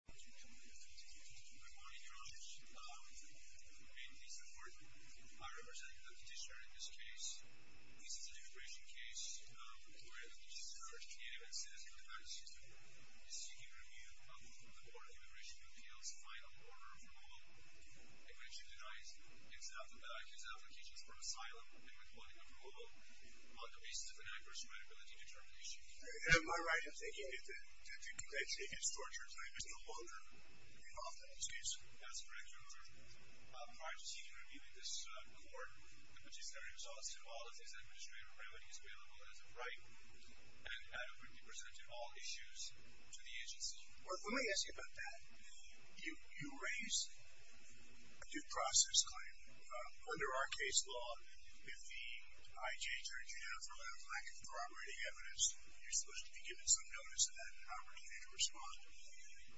Good morning, Your Honor. I mean, it's important. I represent the petitioner in this case. This is an immigration case where the police have discovered a native and citizen of the United States. This is seeking review of the Board of Immigration Appeals' final order of removal. I question the guy's applications for asylum and withholding approval on the basis of an adverse credibility determination. Am I right in thinking that the complaint seeking is torture? It's no longer involved in this case. That's correct, Your Honor. Prior to seeking review in this court, the petitioner exhausted all of his administrative remedies available as of right, and adequately presented all issues to the agency. Well, let me ask you about that. You raised a due process claim. Under our case law, if the IJ turns you down for lack of corroborating evidence, you're supposed to be given some notice of that and an opportunity to respond.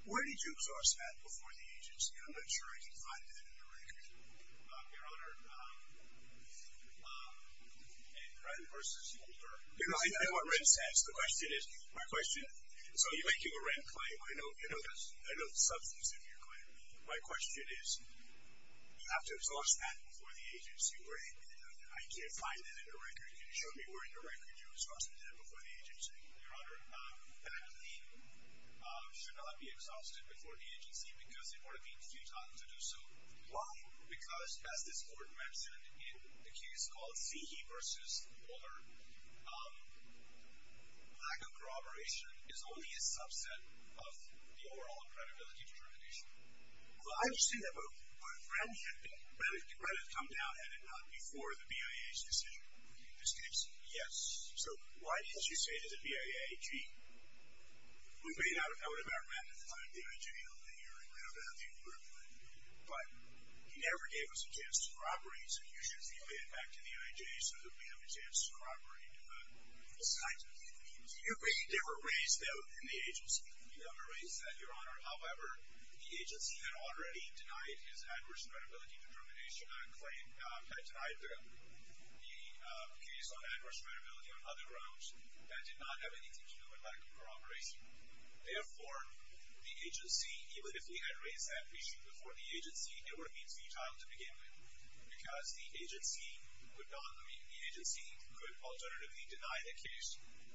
Where did you exhaust that before the agency? I'm not sure I can find that in the record. Your Honor, in Ren v. Holder, I want Ren's sense. The question is, my question, so you're making a Ren claim. I know the substance of your claim. My question is, you have to exhaust that before the agency. I can't find that in the record. Can you show me where in the record you exhausted that before the agency? Your Honor, that claim should not be exhausted before the agency, because it would have been futile to do so. Why? Because, as this court mentioned, in the case called Seehey v. Holder, lack of corroboration is only a subset of the overall credibility determination. Well, I understand that, but would Ren have come down head-on before the BIA's decision? Yes. So why didn't you say to the BIA, gee, we may not have met at the time the IJ held the hearing, we don't have anything to corroborate, but you never gave us a chance to corroborate, so you should relay it back to the IJ so that we have a chance to corroborate it. Besides, there were ways, though, in the agency. There were ways that, Your Honor, however, the agency had already denied his adverse credibility determination and had denied the case on adverse credibility on other grounds that did not have anything to do with lack of corroboration. Therefore, the agency, even if we had raised that issue before the agency, it would have been futile to begin with, because the agency could alternatively deny the case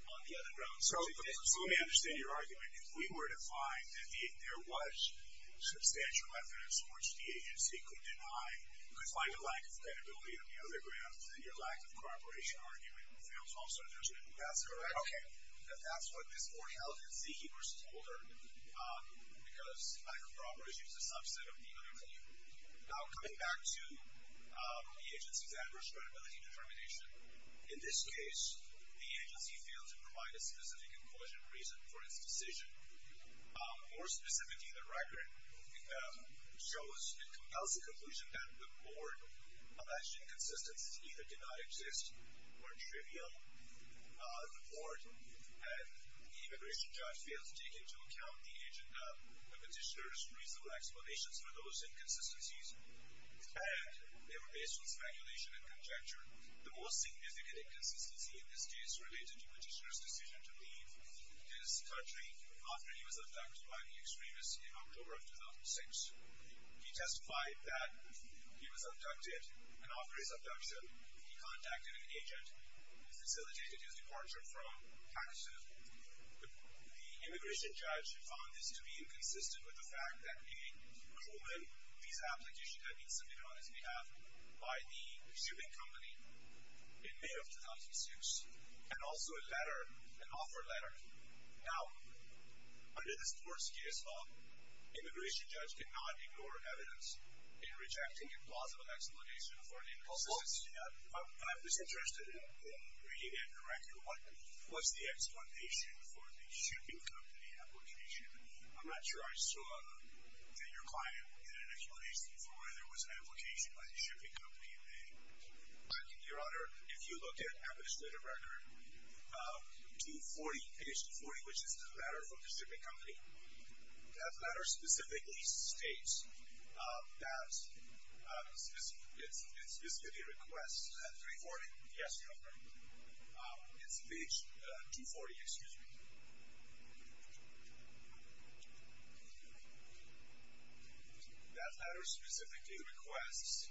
on the other grounds. So let me understand your argument. If we were to find that there was substantial evidence towards the agency, you could find a lack of credibility on the other grounds, then your lack of corroboration argument fails also, doesn't it? That's correct. Okay. That's what this court held in Seehey v. Holder, because lack of corroboration is a subset of the other claim. Now, coming back to the agency's adverse credibility determination, in this case, the agency failed to provide a specific inclusion reason for its decision. More specifically, the record shows and compels the conclusion that the board alleged inconsistencies either did not exist or trivial in the board, and the immigration judge failed to take into account the petitioner's reasonable explanations for those inconsistencies, and they were based on speculation and conjecture. The most significant inconsistency in this case related to the petitioner's decision to leave his country after he was abducted by the extremists in October of 2006. He testified that he was abducted, and after his abduction, he contacted an agent and facilitated his departure from Pakistan. The immigration judge found this to be inconsistent with the fact that a Coleman visa application had been submitted on his behalf by the consuming company in May of 2006, and also a letter, an offer letter. Now, under this court's case law, immigration judge could not ignore evidence in rejecting a plausible explanation for an inconsistency. I'm just interested in reading it correctly. What's the explanation for the shipping company application? I'm not sure I saw that your client did an explanation for whether it was an application by the shipping company in May. Your Honor, if you look at the legislative record, page 40, which is the letter from the shipping company, that letter specifically states that it specifically requests at 340. Yes, Your Honor. It's page 240, excuse me. That letter specifically requests...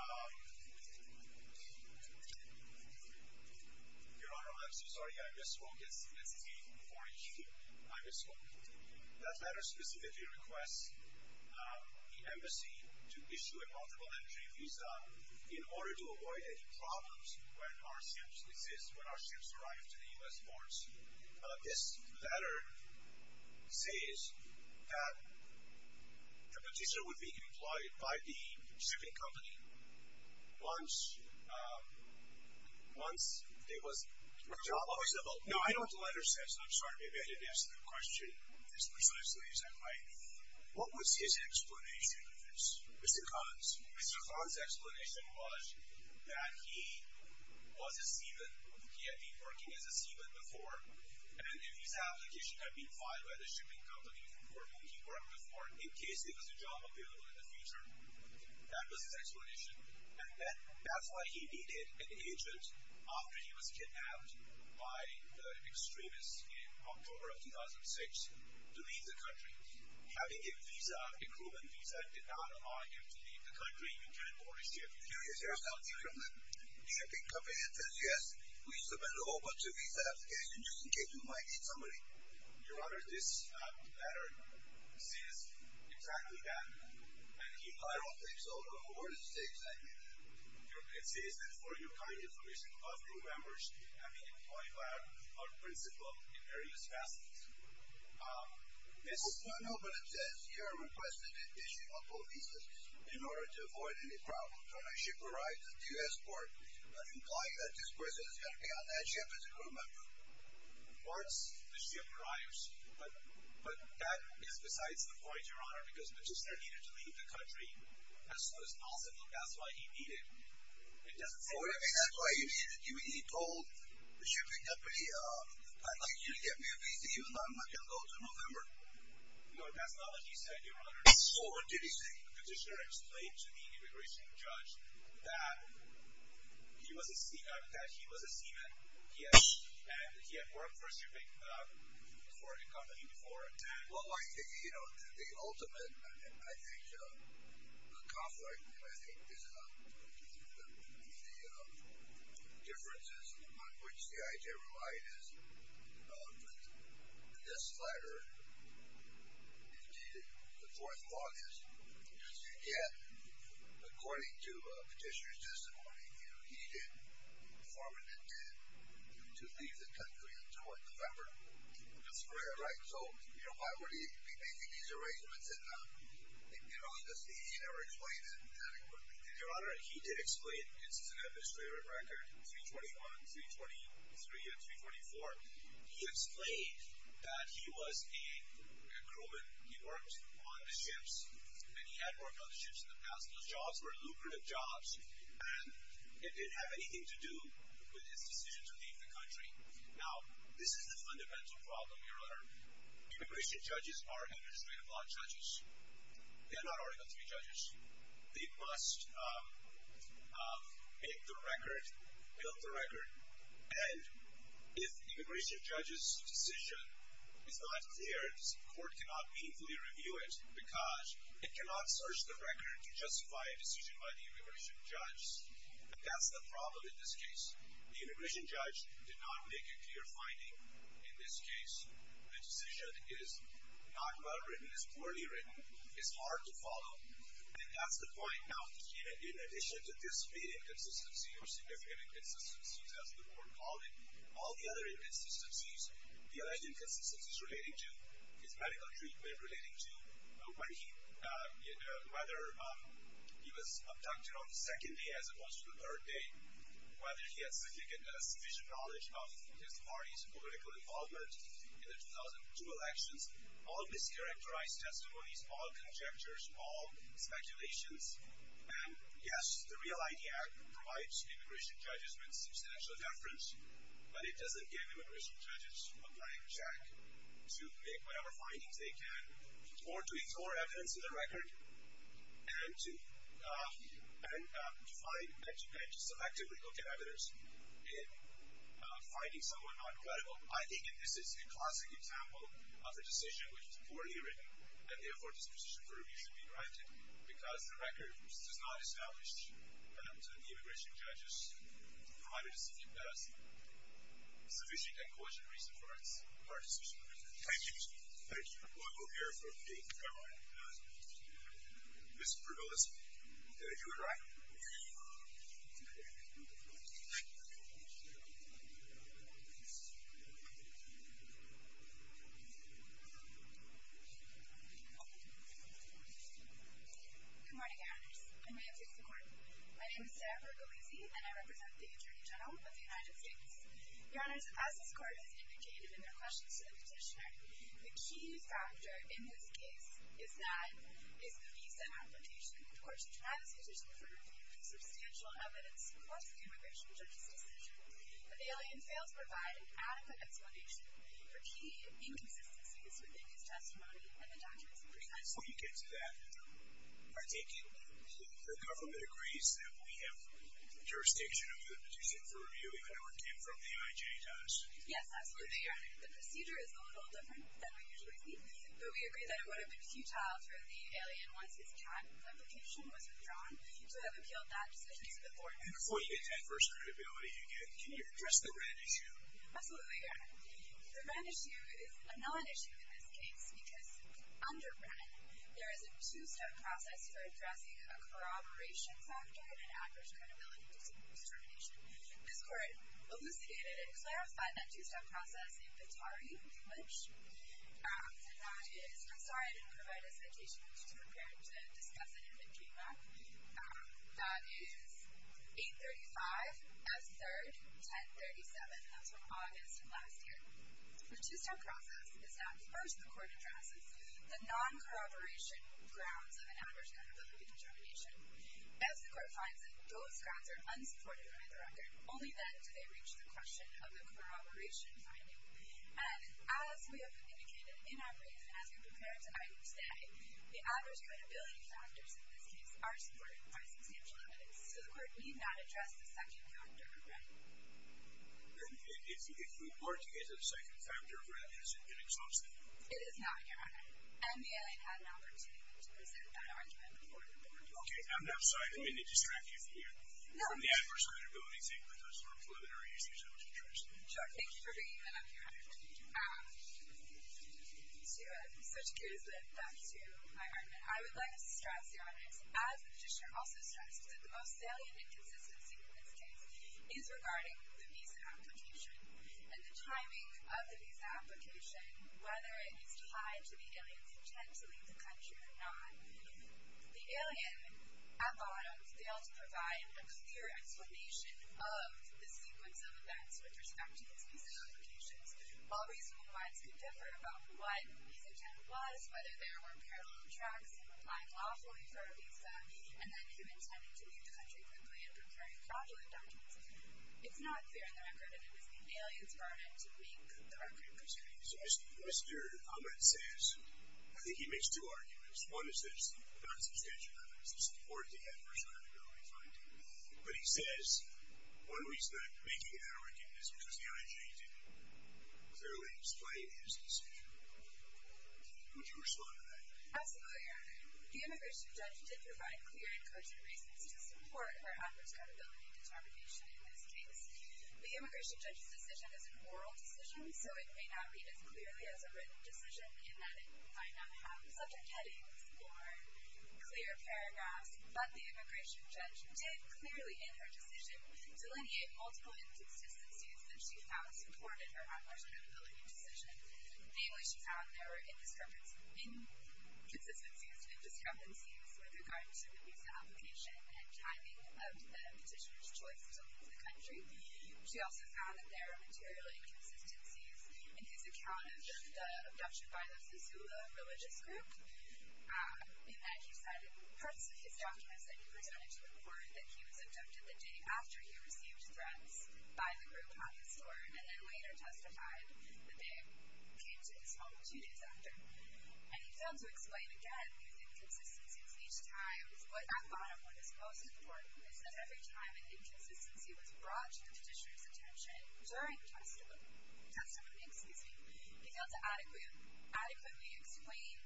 Your Honor, I'm so sorry. I misspoke. It's page 40. I misspoke. That letter specifically requests the embassy to issue a multiple-entry visa in order to avoid any problems when our ships arrive to the U.S. ports. This letter says that the petition would be implied by the shipping company once there was... No, I know what the letter says, and I'm sorry, maybe I didn't answer the question as precisely as I might. What was his explanation of this, Mr. Collins? Mr. Collins' explanation was that he was a seaman. He had been working as a seaman before, and if his application had been filed by the shipping company for making work before, in case there was a job available in the future, that was his explanation. And that's why he needed an agent after he was kidnapped by the extremists in October of 2006 to leave the country. Having a visa, a Cuban visa, did not allow him to leave the country. He couldn't board his ship. The shipping company says, yes, we submit over to visa application just in case you might need somebody. Your Honor, this letter says exactly that. And he hieroglyphs all over the States. It says that for your kind information, all crew members have been employed by our principal in various facets. No, but it says you are requested an additional police in order to avoid any problems. When a ship arrives at the U.S. port, I imply that this person is going to be on that ship as a crew member. Once the ship arrives, but that is besides the point, Your Honor, because the prisoner needed to leave the country. That's why he needed it. That's why he needed it. He told the shipping company, I'd like you to get me a visa, even though I'm not going to go until November. No, that's not what he said, Your Honor. So what did he say? The petitioner explained to the immigration judge that he was a seaman and he had worked for a shipping company before. Well, you know, the ultimate, I think, conflict, I think, is the differences on which the I.J. relied is this letter. Indeed, the fourth clause is, does he get, according to the petitioner's testimony, he did, the foreman did, to leave the country until November. That's correct. So, you know, why would he make these arrangements? You know, he never explains it adequately. Your Honor, he did explain. This is an administrative record, 321, 323, and 324. He explained that he was a crewman. He worked on the ships, and he had worked on the ships in the past. Those jobs were lucrative jobs, and it didn't have anything to do with his decision to leave the country. Now, this is the fundamental problem here, Your Honor. Immigration judges are administrative law judges. They are not article III judges. They must make the record, build the record, and if the immigration judge's decision is not clear, the court cannot meaningfully review it because it cannot search the record to justify a decision by the immigration judge. That's the problem in this case. The immigration judge did not make a clear finding in this case. The decision is not well written. It's poorly written. It's hard to follow, and that's the point now. In addition to this big inconsistency or significant inconsistencies, as the court called it, all the other inconsistencies, the alleged inconsistencies relating to his medical treatment, relating to whether he was abducted on the second day as opposed to the third day, whether he had sufficient knowledge of his party's political involvement in the 2002 elections, all mischaracterized testimonies, all conjectures, all speculations. And yes, the REAL-ID Act provides immigration judges with substantial deference, but it doesn't give immigration judges a blank check to make whatever findings they can or to ignore evidence in the record and to selectively look at evidence in finding someone not credible. I think that this is a classic example of a decision which is poorly written and, therefore, disposition for review should be granted because the record does not establish that the immigration judge's private decision has sufficient and quotient reason for our decision. Thank you. Thank you. Well, we'll hear from the government. Ms. Bergalisi, did I do it right? Yes. Good morning, Your Honors. Good morning. My name is Sarah Bergalisi, and I represent the Attorney General of the United States. Your Honors, as this court has indicated in their questions to the petitioner, the key factor in this case is that it's a visa application. Of course, the Travis petitioner for review has substantial evidence across the immigration judge's decision, but the alien fails to provide an adequate explanation for key inconsistencies within his testimony, and the doctor is pregnant. Well, you can't do that. I take it the government agrees that we have jurisdiction over the petition for review even when it came from the IJ does? Yes, absolutely, Your Honor. The procedure is a little different than we usually see, but we agree that it would have been futile for the alien once his cat application was withdrawn, so I've appealed that decision to the court. And before you get adverse credibility again, can you address the Wren issue? Absolutely, Your Honor. The Wren issue is a non-issue in this case because under Wren, there is a two-step process for addressing a corroboration factor and adverse credibility due to discrimination. This court elucidated and clarified that two-step process in Petare language, and that is... I'm sorry I didn't provide a citation. I was just prepared to discuss it if it came back. That is 835, F3rd, 1037. That's from August of last year. The two-step process is that, first, the court addresses the non-corroboration grounds of an adverse credibility determination. As the court finds that those grounds are unsupported by the record, only then do they reach the question of the corroboration finding. And as we have indicated in our brief, as we prepare tonight and today, the adverse credibility factors in this case are supported by substantial evidence, so the court need not address the second factor of Wren. And if we were to get a second factor of Wren, is it inexhaustible? It is not, Your Honor. And the alien had an opportunity to present that argument before the court. Okay, I'm sorry. I didn't mean to distract you from the adverse credibility thing, but those were preliminary issues I was interested in. Sure. Thank you for bringing that up, Your Honor. To it. I'm such a curious bit. Back to my argument. I would like to stress, Your Honor, as the petitioner also stressed, that the most salient inconsistency in this case is regarding the visa application and the timing of the visa application, whether it is tied to the alien's intent to leave the country or not. The alien, at bottom, failed to provide a clear explanation of the sequence of events with respect to his visa applications. All reasonable guides could differ about what his intent was, whether there were parallel tracks in applying lawfully for a visa, and then who intended to leave the country quickly and preferring fraudulent documents. It's not clear in the record if it was the alien's burden to make the record clear. So Mr. Ahmed says, I think he makes two arguments. One is that it's not substantial evidence. It's important to have personal inevitability finding. But he says, one reason I'm making that argument is because the IG didn't clearly display his decision. Would you respond to that? Absolutely, Your Honor. The immigration judge did provide clear and cogent reasons to support her adverse credibility determination in this case. The immigration judge's decision is a moral decision, so it may not read as clearly as a written decision in that it might not have subject headings or clear paragraphs. But the immigration judge did clearly in her decision delineate multiple inconsistencies that she found supported her adverse credibility decision. Namely, she found there were inconsistencies with regard to the visa application and timing of the petitioner's choice to leave the country. She also found that there are material inconsistencies in his account of the abduction by the Missoula religious group in that he said in parts of his documents that he presented to the court that he was abducted the day after he received threats by the group at the store and then later testified the day he came to his home two days after. And he failed to explain again the inconsistencies each time. But that bottom one is most important. It says every time an inconsistency was brought to the petitioner's attention during testimony, he failed to adequately explain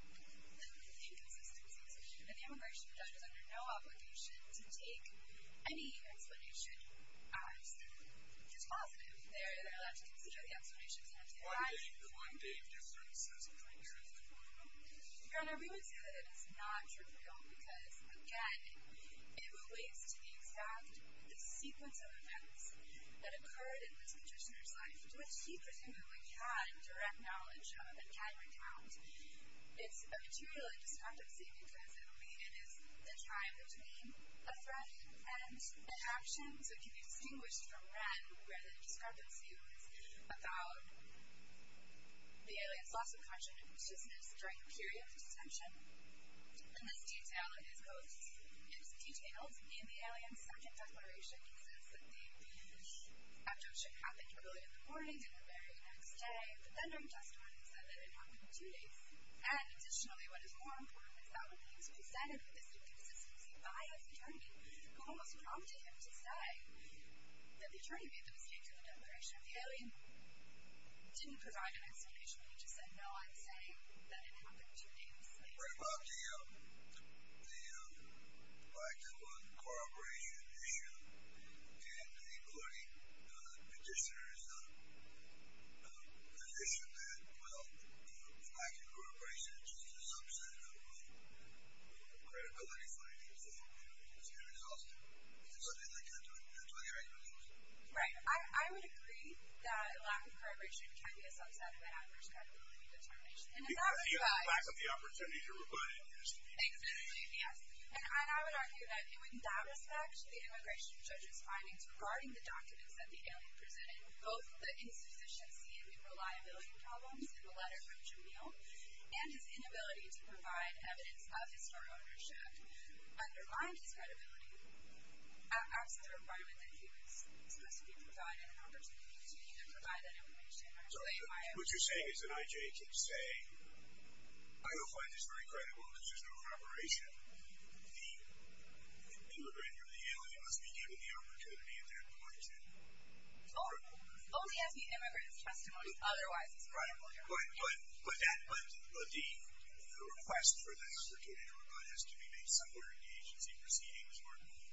the inconsistencies. And the immigration judge is under no obligation to take any explanation as positive. They're allowed to consider the explanations and have to advise. What made the one-day difference as a trigger? Your Honor, we would say that it is not trivial because, again, it relates to the exact sequence of events that occurred in this petitioner's life, which he presumably had direct knowledge of and had recounted. It's a material indiscrepancy because it is the time between a threat and an abduction, so it can be distinguished from red where the indiscrepancy was about the alien's loss of consciousness during the period of detention. And this detail is detailed in the alien's second declaration, which is that the abduction happened early in the morning, the very next day, but then during testimony said that it happened in two days. And additionally, what is more important, is that when he was presented with this inconsistency by his attorney, who almost prompted him to say that the attorney made the mistake in the declaration of the alien, didn't provide an explanation. He just said, no, I'm saying that it happened two days later. Right, well, the lack of corroboration issue and including the petitioner's position that, well, the lack of corroboration is just a subset of credibility findings that you can see results in. It's something they can't do until they have evidence. Right. I would agree that a lack of corroboration can be a subset of an adverse credibility determination. Because of the lack of the opportunity to rebut it. Exactly, yes. And I would argue that in that respect, the immigration judge's findings regarding the documents that the alien presented, both the insufficiency and unreliability problems in the letter from Jamil and his inability to provide evidence of historical ownership undermined his credibility as the requirement that he was supposed to be provided an opportunity to either provide that information or say why it was. What you're saying is an IJ can say, I don't find this very credible because there's no corroboration. The immigrant or the alien must be given the opportunity at that point. It only has to be an immigrant's testimony. Otherwise, it's not credible. Right, but the request for the opportunity to rebut has to be made somewhere in the agency proceedings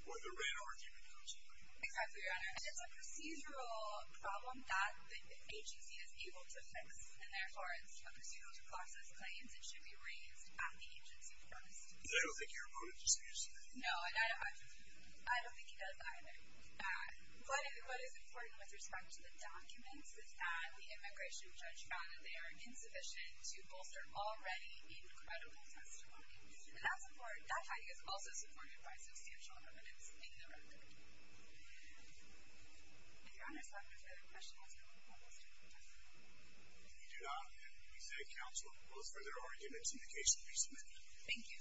or the written argument comes through. Exactly, Your Honor. And it's a procedural problem that the agency is able to fix. And therefore, it's a procedural to process claims that should be raised at the agency first. I don't think your opponent disagrees with that. No, I don't think he does either. What is important with respect to the documents is that the immigration judge found that they are insufficient to bolster already incredible testimony. And that's important. That finding is also supported by substantial evidence in the record. If Your Honor has no further questions, I will call this hearing adjourned. We do not, and we say counsel, oppose further arguments in the case that we submit. Thank you.